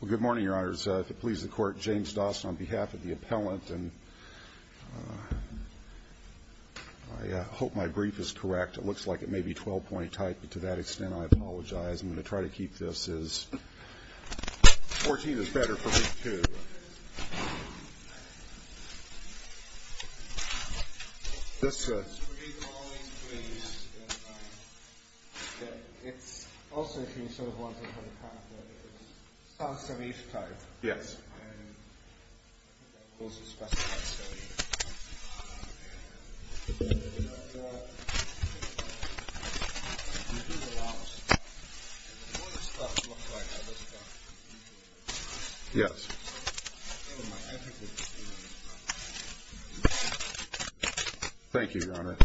Well, good morning, Your Honors. If it pleases the Court, James Dawson on behalf of the appellant. And I hope my brief is correct. It looks like it may be 12-point type, but to that extent, I apologize. I'm going to try to keep this as 14 is better for me, too. Yes, sir. It's recalling please. It's also, if you sort of want to look at it, it sounds to me it's type. Yes. Yes. Thank you, Your Honor.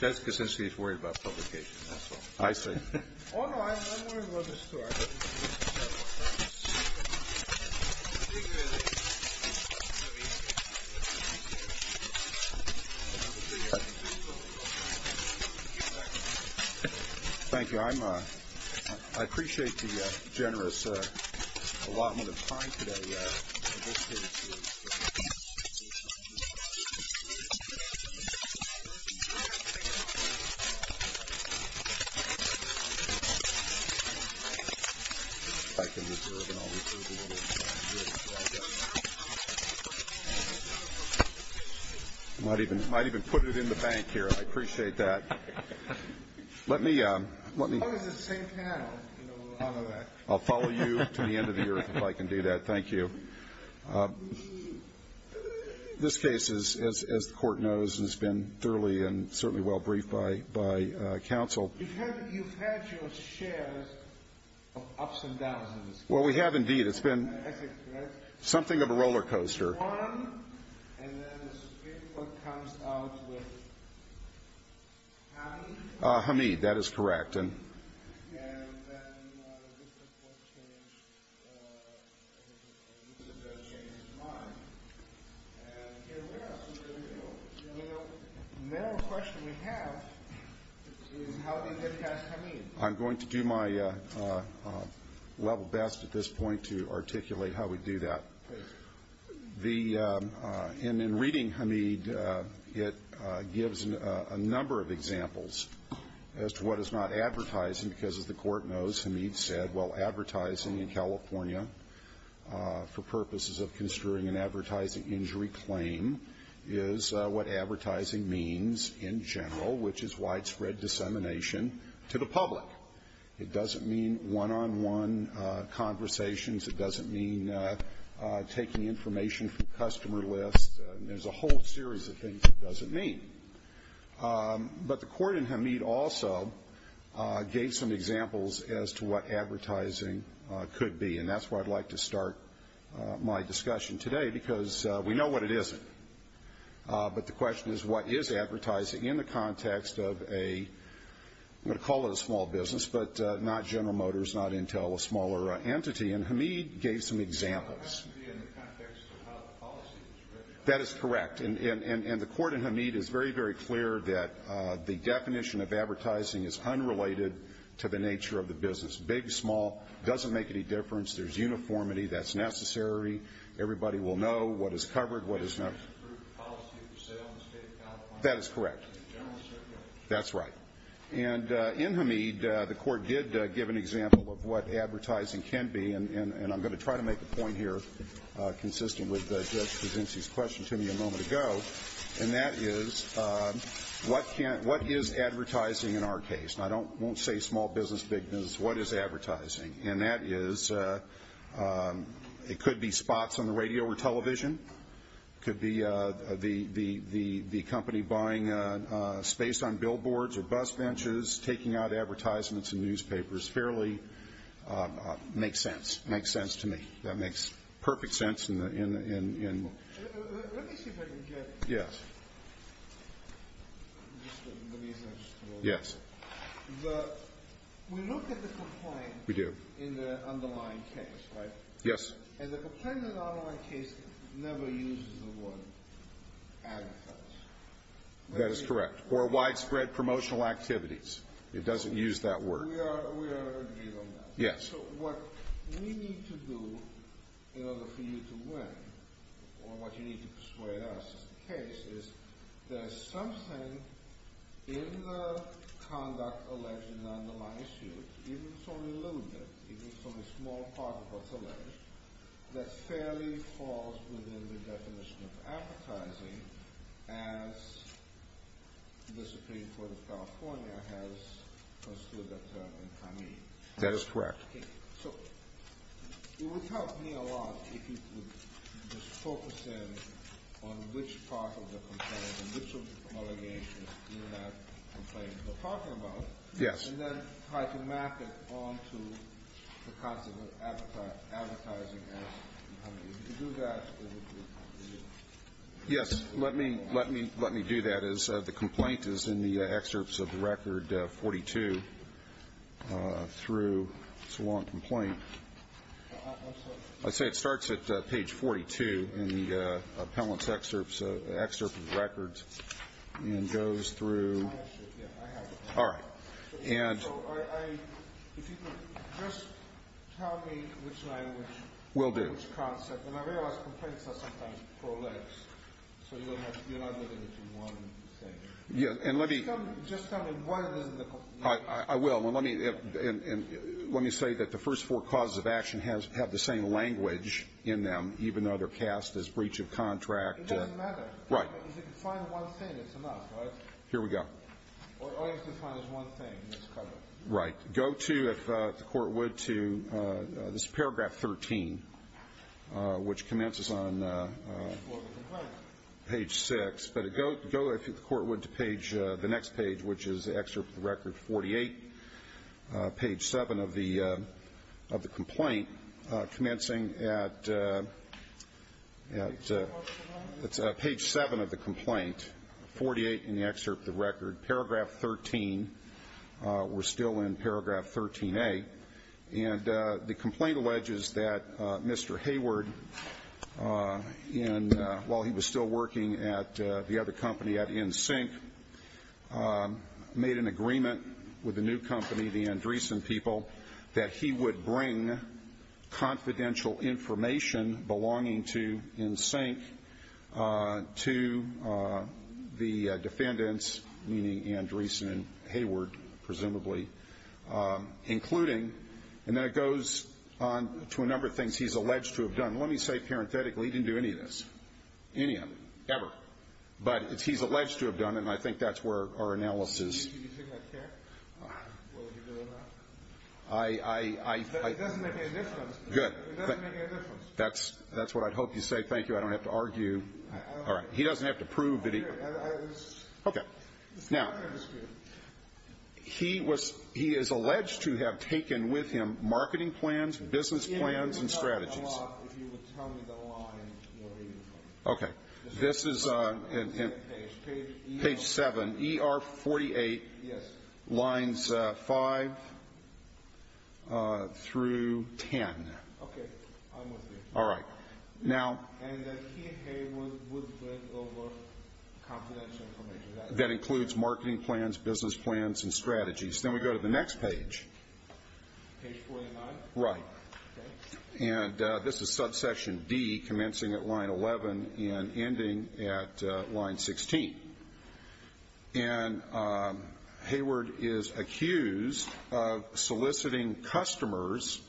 Jessica says she's worried about publication. I see. Oh, no, I'm worried about the story. Thank you. Thank you. I might even put it in the bank here. I appreciate that. How does the same panel know all of that? I'll follow you to the end of the earth if I can do that. Thank you. This case, as the Court knows, has been thoroughly and certainly well-briefed by counsel. You've had your share of ups and downs in this case. Well, we have, indeed. It's been something of a roller coaster. One, and then the Supreme Court comes out with Hamid. Hamid, that is correct. And then the Supreme Court changed his mind. And here we are. You know, the main question we have is how did they pass Hamid? I'm going to do my level best at this point to articulate how we do that. And in reading Hamid, it gives a number of examples as to what is not advertising because, as the Court knows, Hamid said, well, advertising in California for purposes of construing an advertising injury claim is what advertising means in general, which is widespread dissemination to the public. It doesn't mean one-on-one conversations. It doesn't mean taking information from customer lists. There's a whole series of things it doesn't mean. But the Court in Hamid also gave some examples as to what advertising could be. And that's why I'd like to start my discussion today because we know what it isn't. But the question is what is advertising in the context of a, I'm going to call it a small business, but not General Motors, not Intel, a smaller entity. And Hamid gave some examples. It has to be in the context of how the policy was written. That is correct. And the Court in Hamid is very, very clear that the definition of advertising is unrelated to the nature of the business, big, small. It doesn't make any difference. There's uniformity. That's necessary. Everybody will know what is covered, what is not. That is correct. That's right. And in Hamid, the Court did give an example of what advertising can be, and I'm going to try to make a point here, consistent with Judge Presency's question to me a moment ago, and that is what is advertising in our case? And I won't say small business, big business. What is advertising? And that is it could be spots on the radio or television. It could be the company buying space on billboards or bus benches, taking out advertisements in newspapers. Fairly makes sense. Makes sense to me. That makes perfect sense in the end. Let me see if I can get. Yes. Yes. We look at the complaint. We do. In the underlying case, right? Yes. And the complaint in the underlying case never uses the word advertisements. That is correct. Or widespread promotional activities. It doesn't use that word. We are agreed on that. Yes. So what we need to do in order for you to win, or what you need to persuade us in the case, is there's something in the conduct alleged in the underlying suit, even if it's only a little bit, even if it's only a small part of what's alleged, that fairly falls within the definition of advertising, That is correct. Okay. So it would help me a lot if you could just focus in on which part of the complaint and which of the allegations in that complaint we're talking about. Yes. And then try to map it on to the concept of advertising ads. If you could do that, it would be good. Yes. Let me do that. The complaint is in the excerpts of the record 42 through. It's a long complaint. I'm sorry. I'd say it starts at page 42 in the appellant's excerpt of the records and goes through. I have it. All right. And. If you could just tell me which language. Will do. Which concept. And I realize complaints are sometimes prolegs. So you're not limited to one thing. And let me. Just tell me why it is in the. I will. And let me say that the first four causes of action have the same language in them, even though they're cast as breach of contract. It doesn't matter. Right. If you can find one thing, it's enough, right? Here we go. All you have to find is one thing. Right. Go to if the court would to this paragraph 13, which commences on. Page six. But it go go. If the court would to page the next page, which is the excerpt of the record 48. Page seven of the of the complaint commencing at. It's page seven of the complaint. Forty eight in the excerpt. The record paragraph 13. We're still in paragraph 13 a. And the complaint alleges that Mr. Hayward in while he was still working at the other company at NSYNC made an agreement with the new company, the Andreessen people, that he would bring confidential information belonging to NSYNC to the defendants, meaning Andreessen and Hayward, presumably, including. And then it goes on to a number of things he's alleged to have done. Let me say parenthetically he didn't do any of this, any of it, ever. But he's alleged to have done it, and I think that's where our analysis. I, I, I. Good. That's that's what I'd hope you say. Thank you. I don't have to argue. All right. He doesn't have to prove that. Okay. Now, he was he is alleged to have taken with him marketing plans, business plans and strategies. Okay. This is page 7, ER 48, lines 5 through 10. Okay. All right. Now. And he and Hayward would bring over confidential information. That includes marketing plans, business plans and strategies. Then we go to the next page. Page 49? Right. Okay. And this is subsection D, commencing at line 11 and ending at line 16. And Hayward is accused of soliciting customers,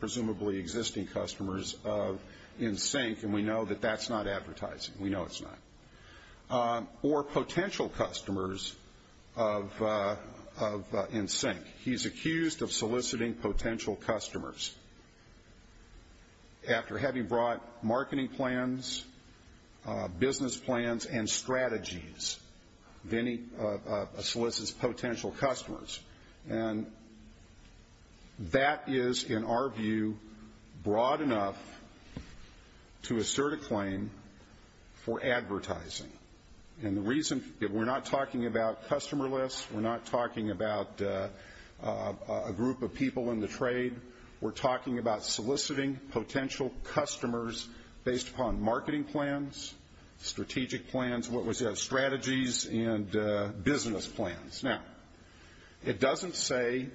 presumably existing customers, of NSYNC. And we know that that's not advertising. We know it's not. Or potential customers of NSYNC. He's accused of soliciting potential customers. After having brought marketing plans, business plans and strategies, then he solicits potential customers. And that is, in our view, broad enough to assert a claim for advertising. And the reason that we're not talking about customer lists, we're not talking about a group of people in the trade, we're talking about soliciting potential customers based upon marketing plans, strategic plans, what was strategies and business plans. Now, it doesn't say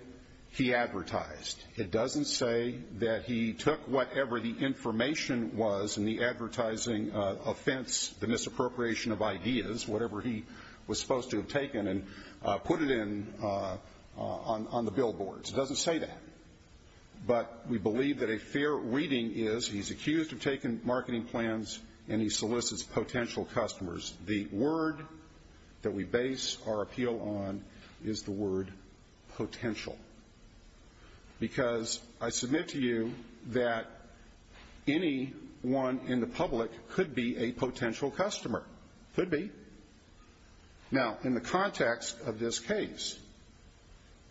he advertised. It doesn't say that he took whatever the information was in the advertising offense, the misappropriation of ideas, whatever he was supposed to have taken, and put it in on the billboards. It doesn't say that. But we believe that a fair reading is he's accused of taking marketing plans and he solicits potential customers. The word that we base our appeal on is the word potential. Because I submit to you that anyone in the public could be a potential customer. Could be. Now, in the context of this case,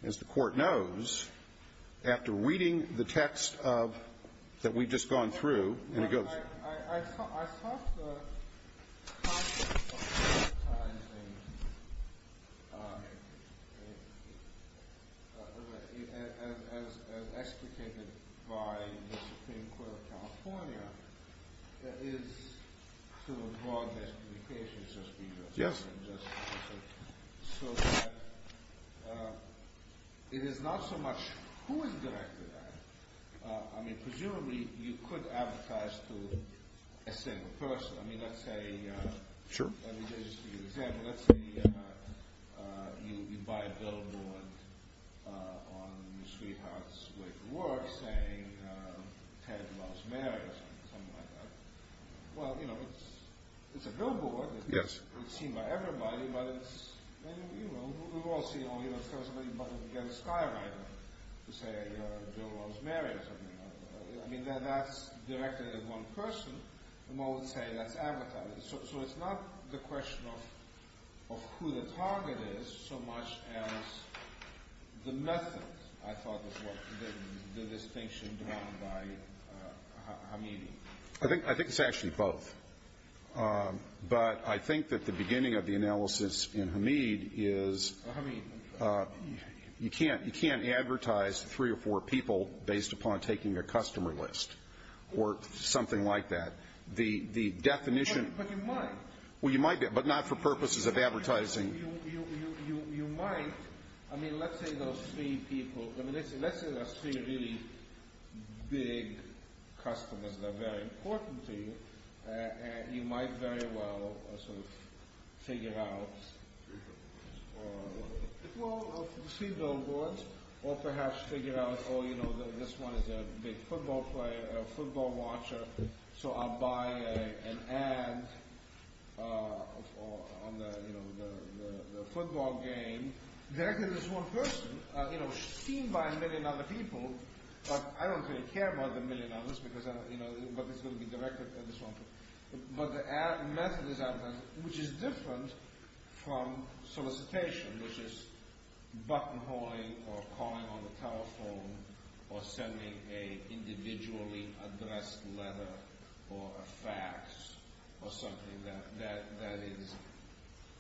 as the Court knows, after reading the text that we've just gone through, and it goes to you. Advertising, as explicated by the Supreme Court of California, is to a broad explication, so to speak. Yes. So that it is not so much who is directed at it. I mean, presumably you could advertise to a single person. Sure. Let me just give you an example. Let's say you buy a billboard on the sweetheart's way to work saying Ted loves Mary or something like that. Well, you know, it's a billboard. Yes. It's seen by everybody. But it's, you know, we've all seen it. You know, somebody buttons against Skywriter to say Bill loves Mary or something like that. I mean, that's directed at one person, and I would say that's advertising. So it's not the question of who the target is so much as the method, I thought, of what the distinction drawn by Hameed. I think it's actually both. But I think that the beginning of the analysis in Hameed is you can't advertise to three or four people based upon taking their customer list or something like that. But you might. Well, you might, but not for purposes of advertising. You might. I mean, let's say those three people, let's say those three really big customers are very important to you, you might very well sort of figure out, well, see the billboards, or perhaps figure out, oh, you know, this one is a big football player, a football watcher, so I'll buy an ad on the football game directed at this one person, you know, seen by a million other people. But I don't really care about the million others, but it's going to be directed at this one person. But the method is advertising, which is different from solicitation, which is buttonholing or calling on the telephone or sending an individually addressed letter or a fax or something that is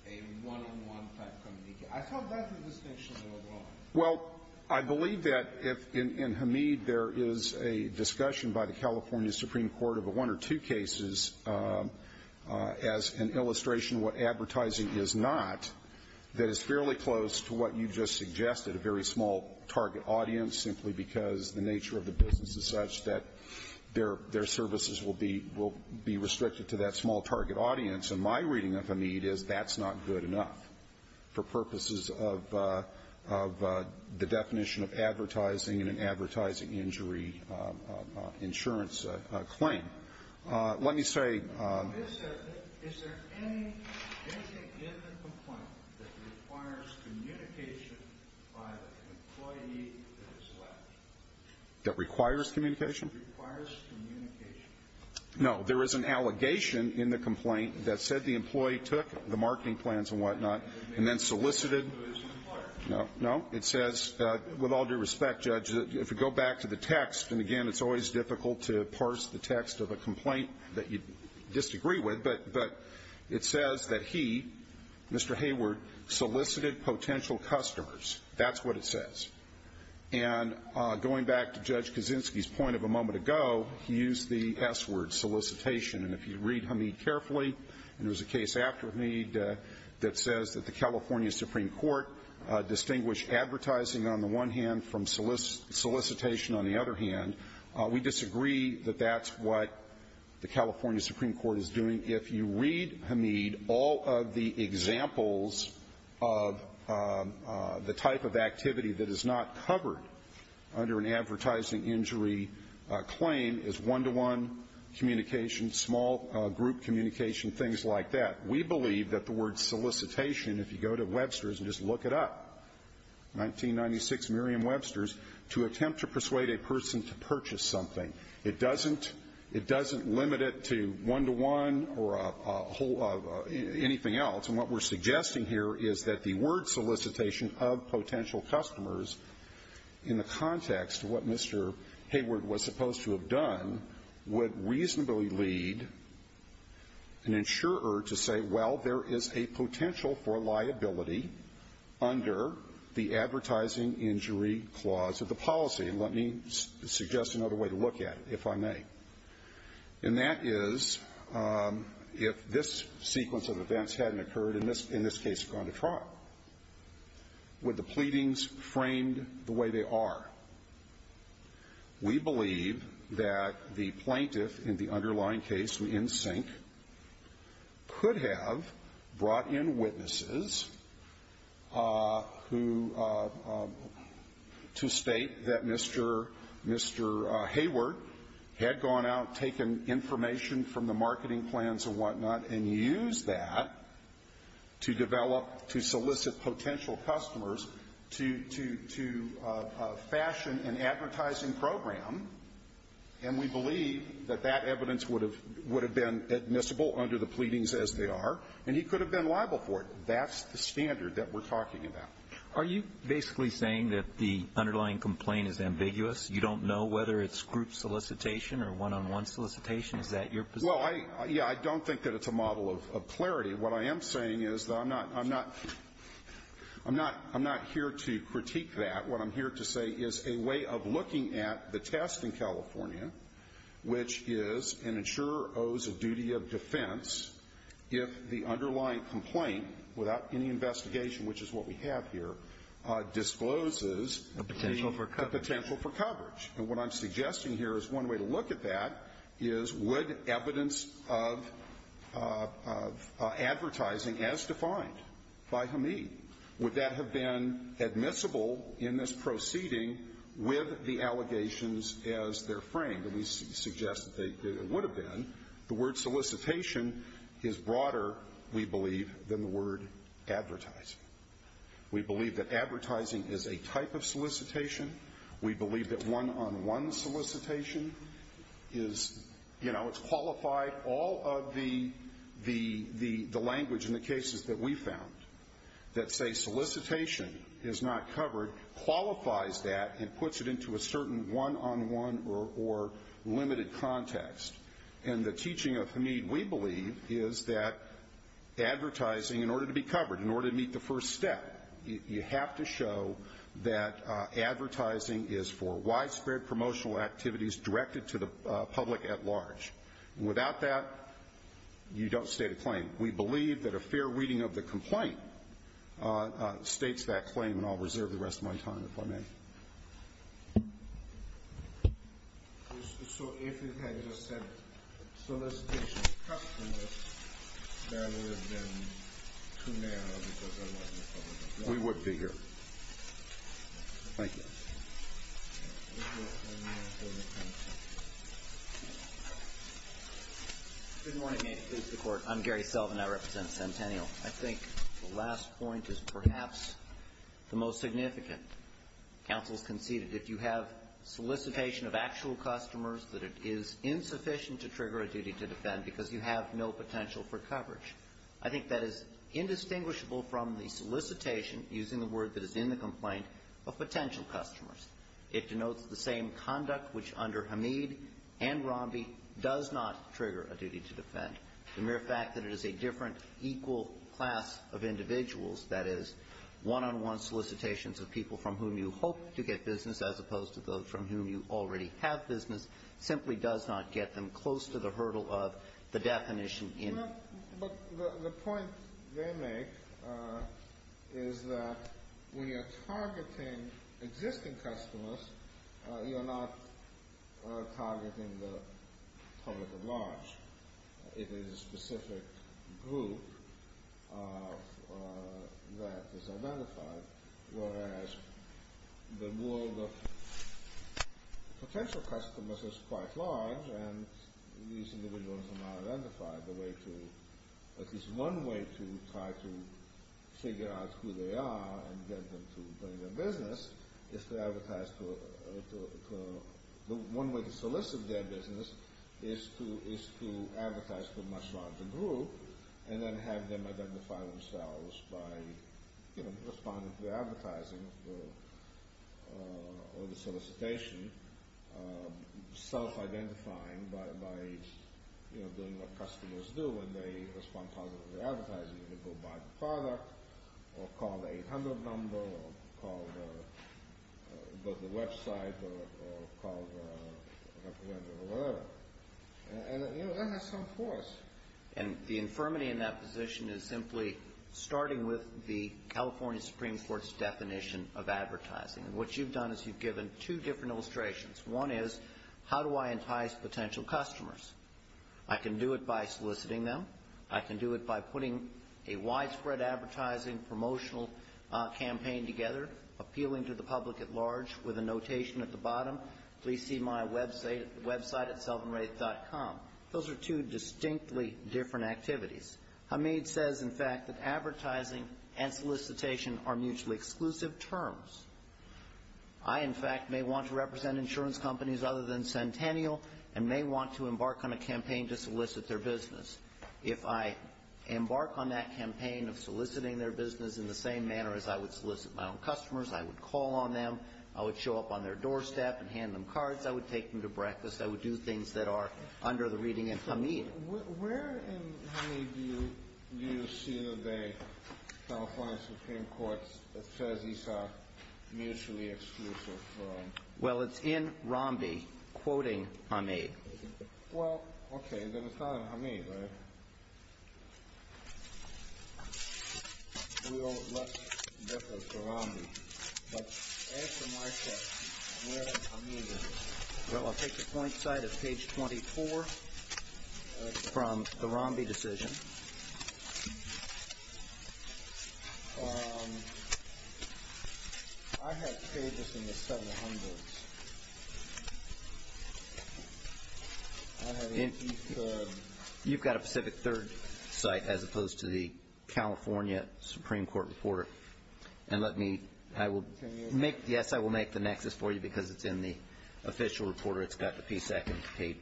a one-on-one type communique. I thought that's the distinction that was drawn. Well, I believe that in Hamid there is a discussion by the California Supreme Court of one or two cases as an illustration of what advertising is not that is fairly close to what you just suggested, a very small target audience, simply because the nature of the business is such that their services will be restricted to that small target audience. And my reading of Hamid is that's not good enough for purposes of the definition of advertising and an advertising injury insurance claim. Let me say this. Is there anything in the complaint that requires communication by the employee that is selected? That requires communication? That requires communication. No. There is an allegation in the complaint that said the employee took the marketing plans and whatnot and then solicited. No. No. It says, with all due respect, Judge, if you go back to the text, and, again, it's always difficult to parse the text of a complaint that you disagree with, but it says that he, Mr. Hayward, solicited potential customers. That's what it says. And going back to Judge Kaczynski's point of a moment ago, he used the S word, solicitation. And if you read Hamid carefully, and there's a case after Hamid that says that the California Supreme Court distinguished advertising on the one hand from solicitation on the other hand, we disagree that that's what the California Supreme Court is doing. And if you read Hamid, all of the examples of the type of activity that is not covered under an advertising injury claim is one-to-one communication, small group communication, things like that. We believe that the word solicitation, if you go to Webster's and just look it up, 1996 Miriam Webster's, to attempt to persuade a person to purchase something, it doesn't limit it to one-to-one or anything else. And what we're suggesting here is that the word solicitation of potential customers, in the context of what Mr. Hayward was supposed to have done, would reasonably lead an insurer to say, well, there is a potential for liability under the advertising injury clause of the policy. Let me suggest another way to look at it, if I may. And that is, if this sequence of events hadn't occurred, in this case, gone to trial, would the pleadings framed the way they are? We believe that the plaintiff in the underlying case, in sync, could have brought in witnesses to state that Mr. Hayward had gone out, taken information from the marketing plans and whatnot, and used that to develop, to solicit potential customers to fashion an advertising program. And we believe that that evidence would have been admissible under the pleadings as they are, and he could have been liable for it. That's the standard that we're talking about. Are you basically saying that the underlying complaint is ambiguous? You don't know whether it's group solicitation or one-on-one solicitation? Is that your position? Well, yeah, I don't think that it's a model of clarity. What I am saying is that I'm not here to critique that. What I'm here to say is a way of looking at the test in California, which is an insurer owes a duty of defense if the underlying complaint, without any investigation, which is what we have here, discloses a potential for coverage. And what I'm suggesting here is one way to look at that is, would evidence of advertising as defined by Hamid, would that have been admissible in this proceeding with the allegations as they're framed? And we suggest that it would have been. The word solicitation is broader, we believe, than the word advertising. We believe that advertising is a type of solicitation. We believe that one-on-one solicitation is, you know, it's qualified all of the language in the cases that we found that say solicitation is not covered, qualifies that and puts it into a certain one-on-one or limited context. And the teaching of Hamid, we believe, is that advertising, in order to be covered, in order to meet the first step, you have to show that advertising is for widespread promotional activities directed to the public at large. Without that, you don't state a claim. We believe that a fair reading of the complaint states that claim. And I'll reserve the rest of my time, if I may. So if it had just said solicitation customers, that would have been too narrow because there wasn't a public authority? We would be here. Thank you. Thank you. Good morning. May it please the Court. I'm Gary Sullivan. I represent Centennial. I think the last point is perhaps the most significant. Counsel has conceded if you have solicitation of actual customers, that it is insufficient to trigger a duty to defend because you have no potential for coverage. I think that is indistinguishable from the solicitation, using the word that is in the complaint, of potential customers. It denotes the same conduct which under Hamid and Romby does not trigger a duty to defend. The mere fact that it is a different, equal class of individuals, that is, one-on-one solicitations of people from whom you hope to get business as opposed to those from whom you already have business, simply does not get them close to the hurdle of the definition. But the point they make is that when you're targeting existing customers, you're not targeting the public at large. It is a specific group that is identified, whereas the world of potential customers is quite large and these individuals are not identified. At least one way to try to figure out who they are and get them to bring their business is to advertise. One way to solicit their business is to advertise for a much larger group and then have them identify themselves by responding to the advertising or the solicitation, self-identifying by doing what customers do when they respond positively to advertising. You can go buy the product or call the 800 number or go to the website or call the representative or whatever. And that has some force. And the infirmity in that position is simply starting with the California Supreme Court's definition of advertising. And what you've done is you've given two different illustrations. One is, how do I entice potential customers? I can do it by soliciting them. I can do it by putting a widespread advertising promotional campaign together, appealing to the public at large, with a notation at the bottom, please see my website at selvinraith.com. Those are two distinctly different activities. Hamid says, in fact, that advertising and solicitation are mutually exclusive terms. I, in fact, may want to represent insurance companies other than Centennial and may want to embark on a campaign to solicit their business. If I embark on that campaign of soliciting their business in the same manner as I would solicit my own customers, I would call on them, I would show up on their doorstep and hand them cards, I would take them to breakfast, I would do things that are under the reading of Hamid. Where in Hamid do you see that the California Supreme Court says these are mutually exclusive terms? Well, it's in Rambi, quoting Hamid. Well, okay, but it's not in Hamid, right? Well, let's defer to Rambi. Well, I'll take the point side of page 24 from the Rambi decision. I have pages in the 700s. You've got a Pacific Third site as opposed to the California Supreme Court reporter. And let me, I will make, yes, I will make the nexus for you because it's in the official reporter. It's got the P second page.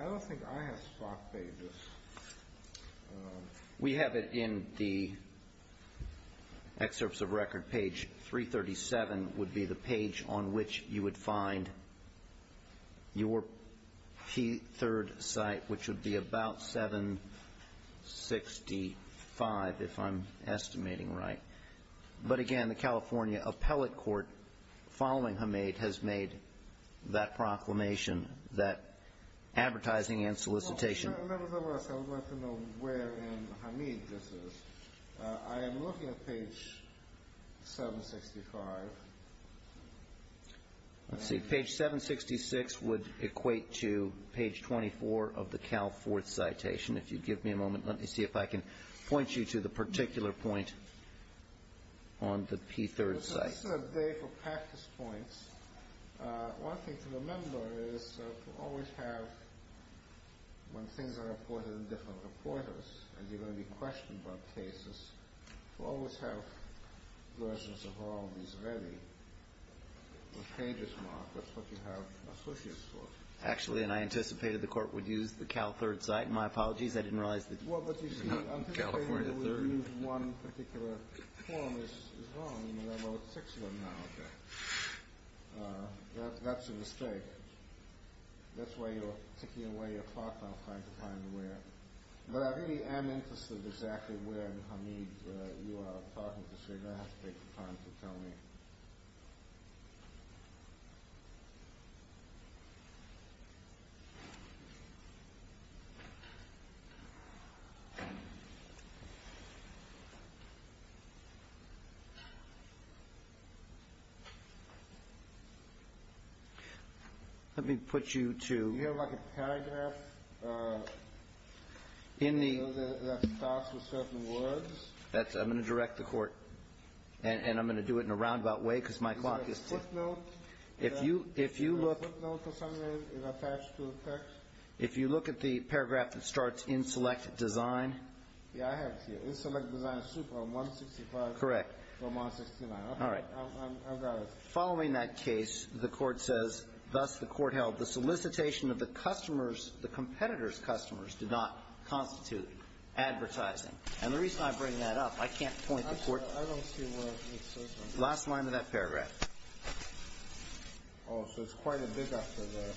I don't think I have stock pages. We have it in the excerpts of record. Page 337 would be the page on which you would find your P third site, which would be about 765, if I'm estimating right. But again, the California appellate court following Hamid has made that proclamation, that advertising and solicitation. Members of the House, I would like to know where in Hamid this is. I am looking at page 765. Let's see, page 766 would equate to page 24 of the Cal Fourth citation. If you'd give me a moment, let me see if I can point you to the particular point on the P third site. This is a day for practice points. One thing to remember is to always have, when things are reported in different reporters, and you're going to be questioned about cases, to always have versions of all these ready with pages marked. That's what you have associates for. Actually, and I anticipated the court would use the Cal Third site. My apologies, I didn't realize that you were not in California Third. I believe one particular form is wrong. I wrote six of them now. That's a mistake. That's why you're ticking away your clock. I'm trying to find where. But I really am interested exactly where in Hamid you are talking to, so you're going to have to take the time to tell me. Let me put you to... Do you have like a paragraph that starts with certain words? I'm going to direct the court, and I'm going to do it in a roundabout way because my clock is... Is there a footnote? If you look... Is there a footnote or something that's attached to the text? If you look at the paragraph that starts in select design... Yeah, I have it here. In select design super, 165... Correct. 169. All right. I've got it. Following that case, the court says, thus the court held, the solicitation of the customers, the competitor's customers, did not constitute advertising. And the reason I bring that up, I can't point the court... I don't see where it says that. Last line of that paragraph. Oh, so it's quite a bit after the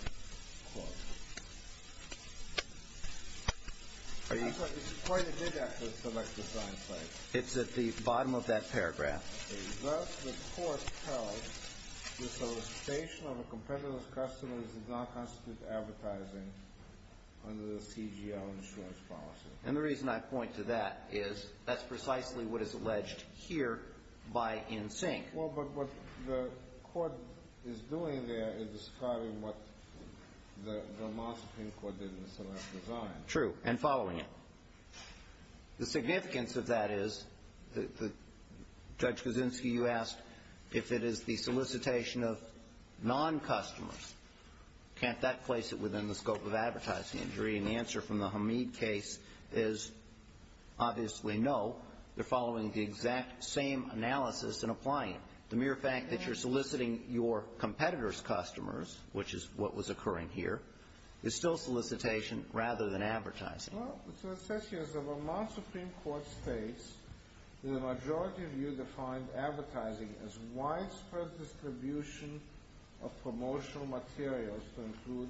quote. It's quite a bit after the select design site. It's at the bottom of that paragraph. Thus the court held, the solicitation of the competitor's customers did not constitute advertising under the CGL insurance policy. And the reason I point to that is that's precisely what is alleged here by NSYNC. Well, but what the court is doing there is describing what the Moscow Court did in the select design. True, and following it. The significance of that is, Judge Kuczynski, you asked if it is the solicitation of non-customers. Can't that place it within the scope of advertising injury? The answer from the Hamid case is obviously no. They're following the exact same analysis and applying it. The mere fact that you're soliciting your competitor's customers, which is what was occurring here, is still solicitation rather than advertising. Well, what it says here is the Vermont Supreme Court states that a majority of you defined advertising as widespread distribution of promotional materials to include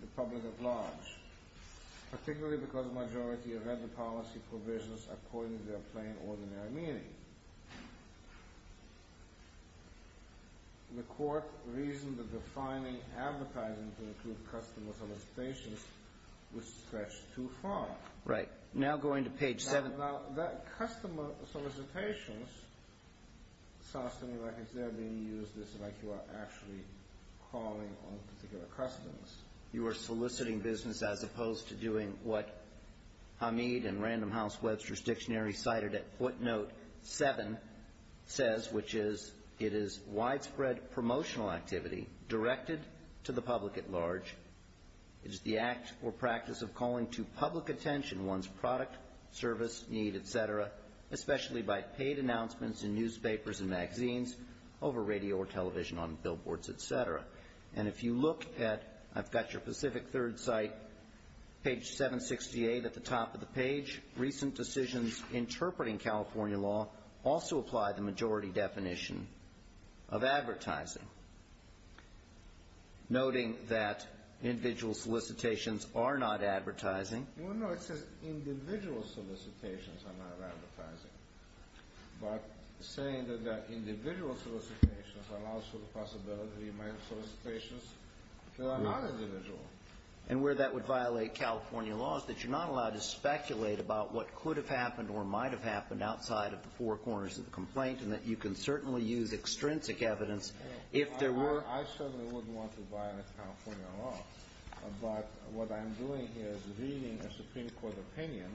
the public at large, particularly because a majority have read the policy provisions according to their plain, ordinary meaning. The court reasoned that defining advertising to include customer solicitations was stretched too far. Right. Now going to page 7. Now, that customer solicitations sounds to me like it's there being used as if you are actually calling on particular customers. You are soliciting business as opposed to doing what Hamid and Random House Webster's dictionary cited at footnote 7 says, which is it is widespread promotional activity directed to the public at large. It is the act or practice of calling to public attention one's product, service, need, et cetera, especially by paid announcements in newspapers and magazines, over radio or television, on billboards, et cetera. And if you look at, I've got your Pacific Third site, page 768 at the top of the page, recent decisions interpreting California law also apply the majority definition of advertising, noting that individual solicitations are not advertising. Well, no, it says individual solicitations are not advertising. But saying that there are individual solicitations allows for the possibility of making solicitations that are not individual. And where that would violate California law is that you're not allowed to speculate about what could have happened or might have happened outside of the four corners of the complaint and that you can certainly use extrinsic evidence if there were. I certainly wouldn't want to violate California law, but what I'm doing here is reading a Supreme Court opinion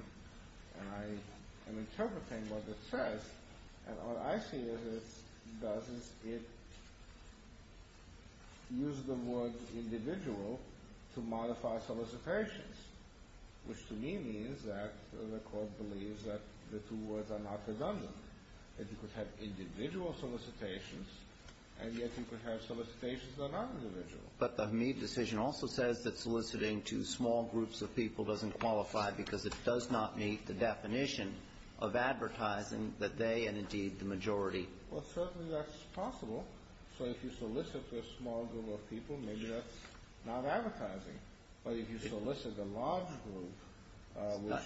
and I am interpreting what it says, and what I see it does is it uses the word individual to modify solicitations, which to me means that the court believes that the two words are not redundant, that you could have individual solicitations and yet you could have solicitations that are not individual. But the Hmead decision also says that soliciting to small groups of people doesn't qualify because it does not meet the definition of advertising that they and, indeed, the majority. Well, certainly that's possible. So if you solicit to a small group of people, maybe that's not advertising. But if you solicit a large group,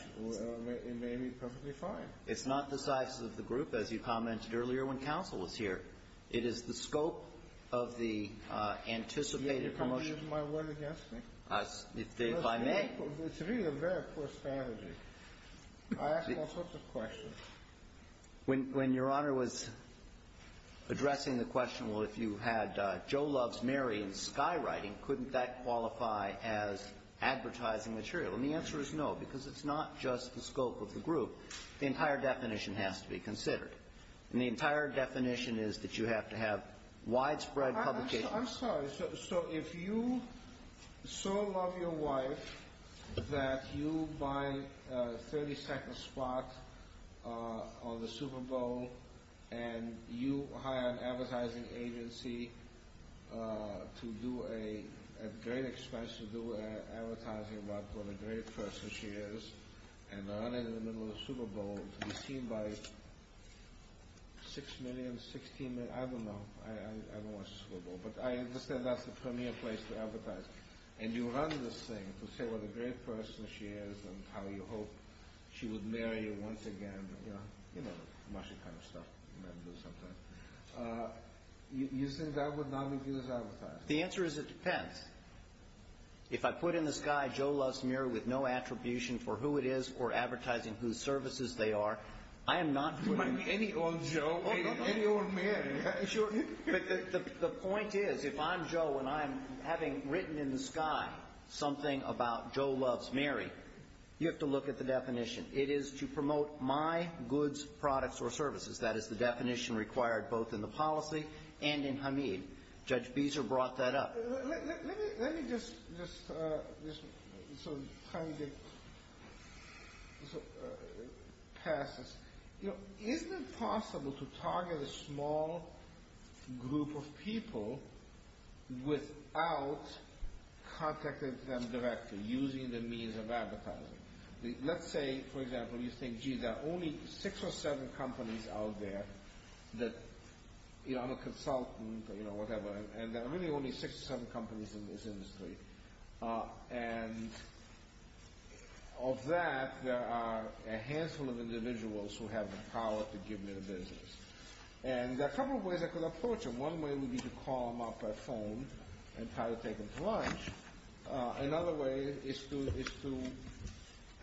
it may be perfectly fine. It's not the size of the group, as you commented earlier when counsel was here. It is the scope of the anticipated promotion. Can you please use my word against me? If I may. It's really a very poor strategy. I ask all sorts of questions. When Your Honor was addressing the question, well, if you had Joe Loves Mary in skywriting, couldn't that qualify as advertising material? And the answer is no, because it's not just the scope of the group. The entire definition has to be considered. And the entire definition is that you have to have widespread publication. I'm sorry. So if you so love your wife that you buy a 30-second spot on the Super Bowl and you hire an advertising agency at great expense to do advertising about what a great person she is and run into the middle of the Super Bowl to be seen by 6 million, 16 million, I don't know. I don't watch the Super Bowl. But I understand that's the premier place to advertise. And you run this thing to say what a great person she is and how you hope she would marry you once again, you know, the kind of stuff you have to do sometimes. You think that would not be viewed as advertising? The answer is it depends. If I put in the sky Joe Loves Mary with no attribution for who it is or advertising whose services they are, I am not putting any old Joe or any old Mary. But the point is if I'm Joe and I'm having written in the sky something about Joe Loves Mary, you have to look at the definition. It is to promote my goods, products, or services. That is the definition required both in the policy and in Hamid. Judge Beezer brought that up. Let me just sort of kind of pass this. You know, isn't it possible to target a small group of people without contacting them directly, using the means of advertising? Let's say, for example, you think, gee, there are only six or seven companies out there that, you know, I'm a consultant, you know, whatever, and there are really only six or seven companies in this industry. And of that, there are a handful of individuals who have the power to give me the business. And there are a couple of ways I could approach it. One way would be to call them up by phone and try to take them to lunch. Another way is to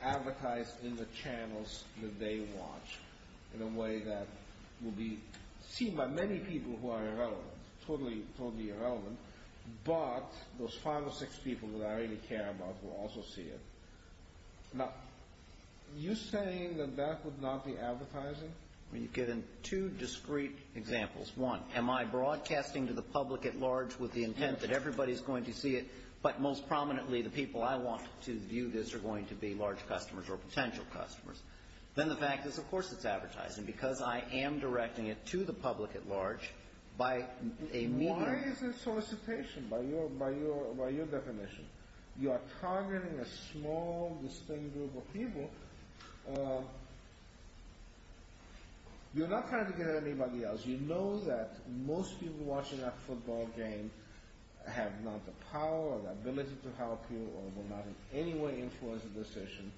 advertise in the channels that they watch in a way that will be seen by many people who are irrelevant, totally irrelevant. But those five or six people that I really care about will also see it. Now, are you saying that that would not be advertising? Well, you've given two discrete examples. One, am I broadcasting to the public at large with the intent that everybody is going to see it, but most prominently the people I want to view this are going to be large customers or potential customers. Then the fact is, of course it's advertising because I am directing it to the public at large by a medium. That is a solicitation by your definition. You are targeting a small, distinct group of people. You're not trying to get at anybody else. You know that most people watching that football game have not the power or the ability to help you or will not in any way influence the decision.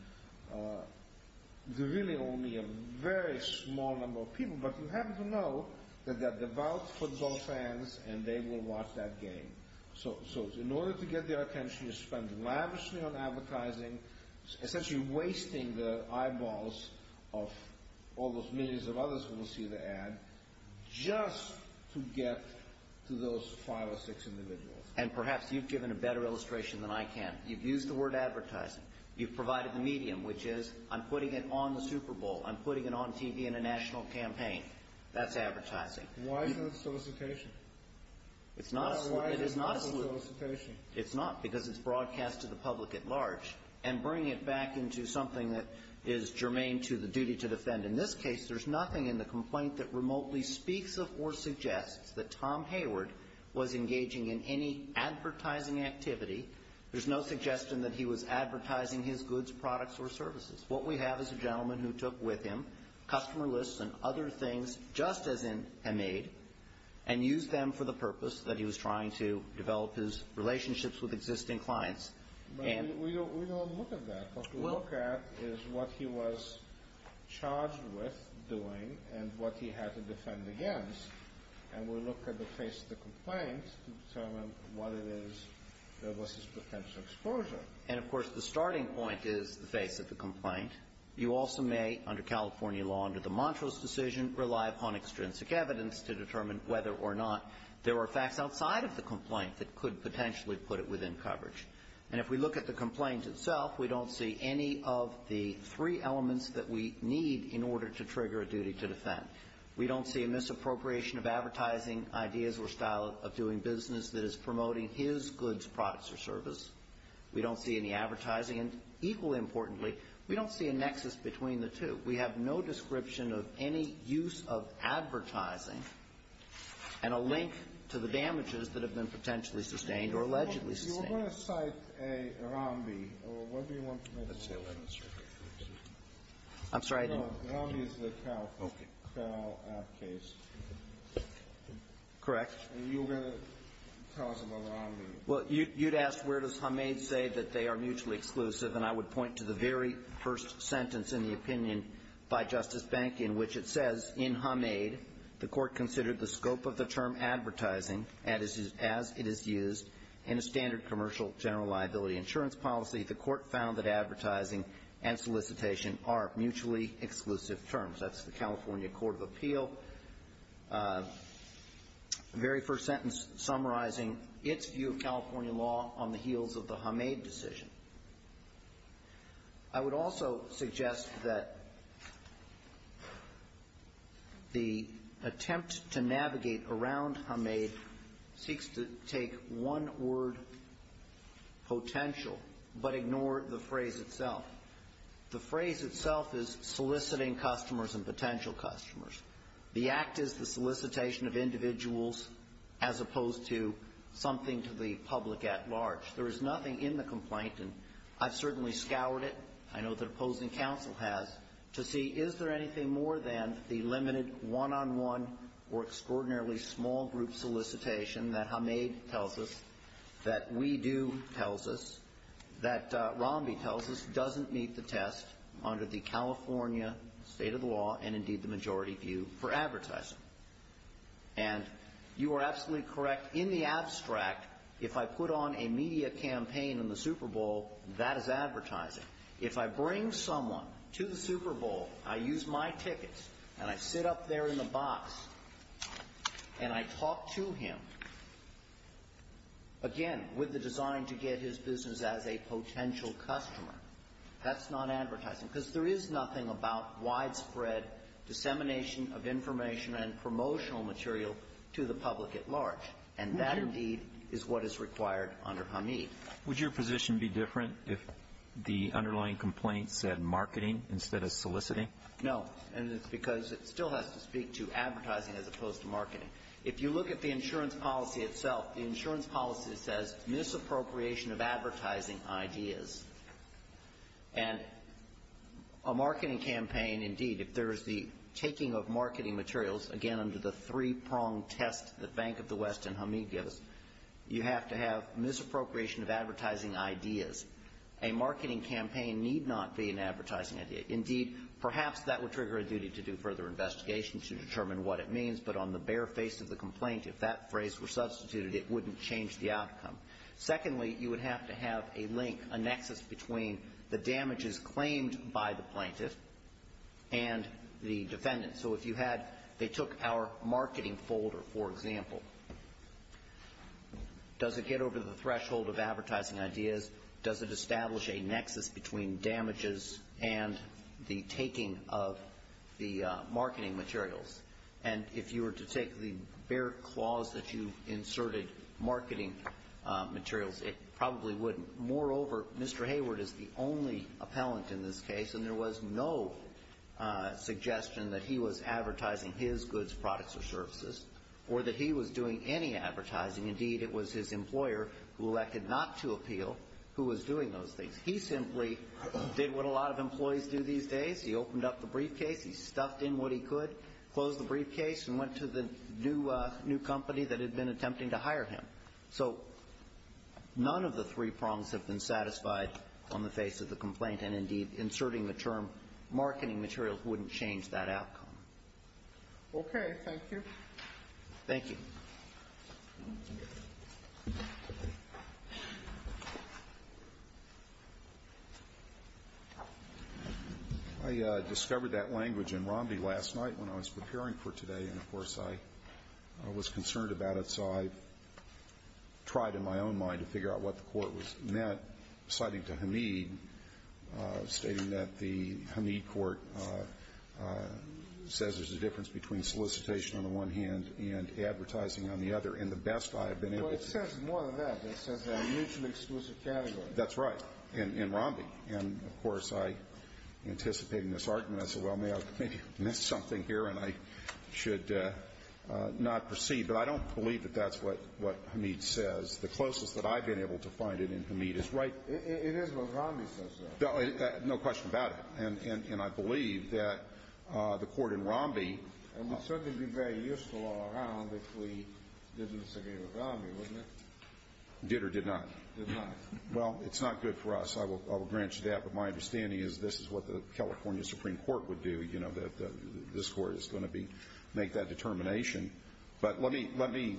There are really only a very small number of people, but you have to know that they're devout football fans and they will watch that game. In order to get their attention, you spend lavishly on advertising, essentially wasting the eyeballs of all those millions of others who will see the ad just to get to those five or six individuals. And perhaps you've given a better illustration than I can. You've used the word advertising. You've provided the medium, which is I'm putting it on the Super Bowl. I'm putting it on TV in a national campaign. That's advertising. Why is that a solicitation? It's not a solicitation. It's not because it's broadcast to the public at large and bringing it back into something that is germane to the duty to defend. In this case, there's nothing in the complaint that remotely speaks of or suggests that Tom Hayward was engaging in any advertising activity. There's no suggestion that he was advertising his goods, products, or services. What we have is a gentleman who took with him customer lists and other things just as in a maid and used them for the purpose that he was trying to develop his relationships with existing clients. We don't look at that. What we look at is what he was charged with doing and what he had to defend against, and we look at the face of the complaint to determine what it is that was his potential exposure. And, of course, the starting point is the face of the complaint. You also may, under California law under the Montrose decision, rely upon extrinsic evidence to determine whether or not there are facts outside of the complaint that could potentially put it within coverage. And if we look at the complaint itself, we don't see any of the three elements that we need in order to trigger a duty to defend. We don't see a misappropriation of advertising ideas or style of doing business that is promoting his goods, products, or service. We don't see any advertising. And, equally importantly, we don't see a nexus between the two. We have no description of any use of advertising and a link to the damages that have been potentially sustained or allegedly sustained. You were going to cite a Rambi. What do you want to make of that? I'm sorry? No, Rambi is the Carroll case. Correct. And you were going to tell us about Rambi. Well, you'd ask where does Hamed say that they are mutually exclusive, and I would point to the very first sentence in the opinion by Justice Bank in which it says, in Hamed, the Court considered the scope of the term advertising, as it is used, in a standard commercial general liability insurance policy. The Court found that advertising and solicitation are mutually exclusive terms. That's the California Court of Appeal. The very first sentence summarizing its view of California law on the heels of the Hamed decision. I would also suggest that the attempt to navigate around Hamed seeks to take one word, potential, but ignore the phrase itself. The phrase itself is soliciting customers and potential customers. The act is the solicitation of individuals as opposed to something to the public at large. There is nothing in the complaint, and I've certainly scoured it, I know that opposing counsel has, to see is there anything more than the limited one-on-one or extraordinarily small group solicitation that Hamed tells us, that we do tells us, that Rambi tells us, doesn't meet the test under the California state of the law and, indeed, the majority view for advertising. And you are absolutely correct. In the abstract, if I put on a media campaign in the Super Bowl, that is advertising. If I bring someone to the Super Bowl, I use my tickets, and I sit up there in the box, and I talk to him, again, with the design to get his business as a potential customer, that's not advertising because there is nothing about widespread dissemination of information and promotional material to the public at large, and that, indeed, is what is required under Hamed. Would your position be different if the underlying complaint said marketing instead of soliciting? No, and it's because it still has to speak to advertising as opposed to marketing. If you look at the insurance policy itself, the insurance policy says misappropriation of advertising ideas, and a marketing campaign, indeed, if there is the taking of marketing materials, again, under the three-pronged test that Bank of the West and Hamed gives, you have to have misappropriation of advertising ideas. A marketing campaign need not be an advertising idea. Indeed, perhaps that would trigger a duty to do further investigation to determine what it means, but on the bare face of the complaint, if that phrase were substituted, it wouldn't change the outcome. Secondly, you would have to have a link, a nexus between the damages claimed by the plaintiff and the defendant. So if you had, they took our marketing folder, for example, does it get over the threshold of advertising ideas? Does it establish a nexus between damages and the taking of the marketing materials? And if you were to take the bare clause that you inserted, marketing materials, it probably wouldn't. Moreover, Mr. Hayward is the only appellant in this case, and there was no suggestion that he was advertising his goods, products, or services, or that he was doing any advertising. Indeed, it was his employer who elected not to appeal who was doing those things. He simply did what a lot of employees do these days. He opened up the briefcase. He stuffed in what he could, closed the briefcase, and went to the new company that had been attempting to hire him. So none of the three prongs have been satisfied on the face of the complaint, and indeed inserting the term marketing materials wouldn't change that outcome. Okay. Thank you. Thank you. Thank you. I discovered that language in Romney last night when I was preparing for today, and, of course, I was concerned about it, so I tried in my own mind to figure out what the court was met, citing to Hamid, stating that the Hamid court says there's a difference between solicitation on the one hand and advertising on the other, and the best I have been able to do. Well, it says more than that. It says a mutually exclusive category. That's right, in Romney. And, of course, I, anticipating this argument, I said, well, maybe I missed something here and I should not proceed. But I don't believe that that's what Hamid says. The closest that I've been able to find it in Hamid is right. It is what Romney says, though. No question about it. And I believe that the court in Romney. It would certainly be very useful all around if we didn't disagree with Romney, wouldn't it? Did or did not? Did not. Well, it's not good for us. I will grant you that. But my understanding is this is what the California Supreme Court would do, you know, that this court is going to make that determination. But let me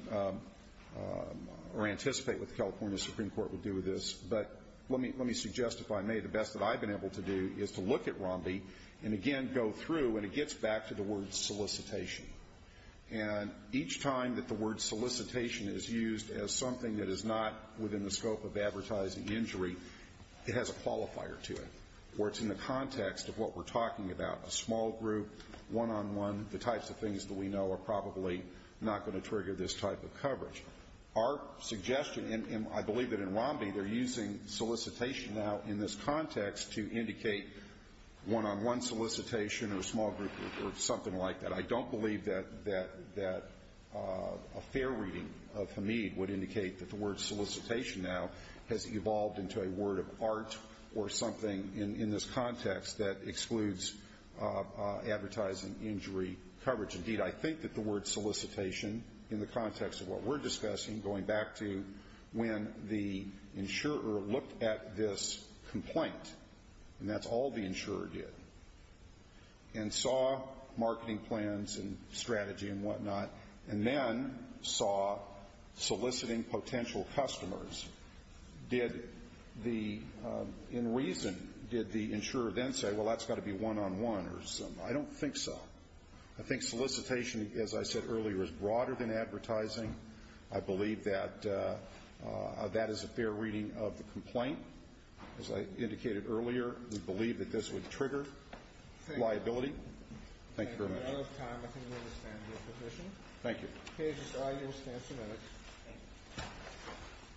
anticipate what the California Supreme Court would do with this. But let me suggest, if I may, the best that I've been able to do is to look at Romney and, again, go through and it gets back to the word solicitation. And each time that the word solicitation is used as something that is not within the scope of advertising injury, it has a qualifier to it where it's in the context of what we're talking about, a small group, one-on-one, the types of things that we know are probably not going to trigger this type of coverage. Our suggestion, and I believe that in Romney they're using solicitation now in this context to indicate one-on-one solicitation or a small group or something like that. I don't believe that a fair reading of Hamid would indicate that the word solicitation now has evolved into a word of art or something in this context that excludes advertising injury coverage. Indeed, I think that the word solicitation in the context of what we're discussing, going back to when the insurer looked at this complaint, and that's all the insurer did, and saw marketing plans and strategy and whatnot, and then saw soliciting potential customers, in reason did the insurer then say, well, that's got to be one-on-one or something. I don't think so. I think solicitation, as I said earlier, is broader than advertising. I believe that that is a fair reading of the complaint. As I indicated earlier, we believe that this would trigger liability. Thank you very much. Thank you. We're out of time. I think we understand your position. Thank you. Okay. Just allow your stance a minute.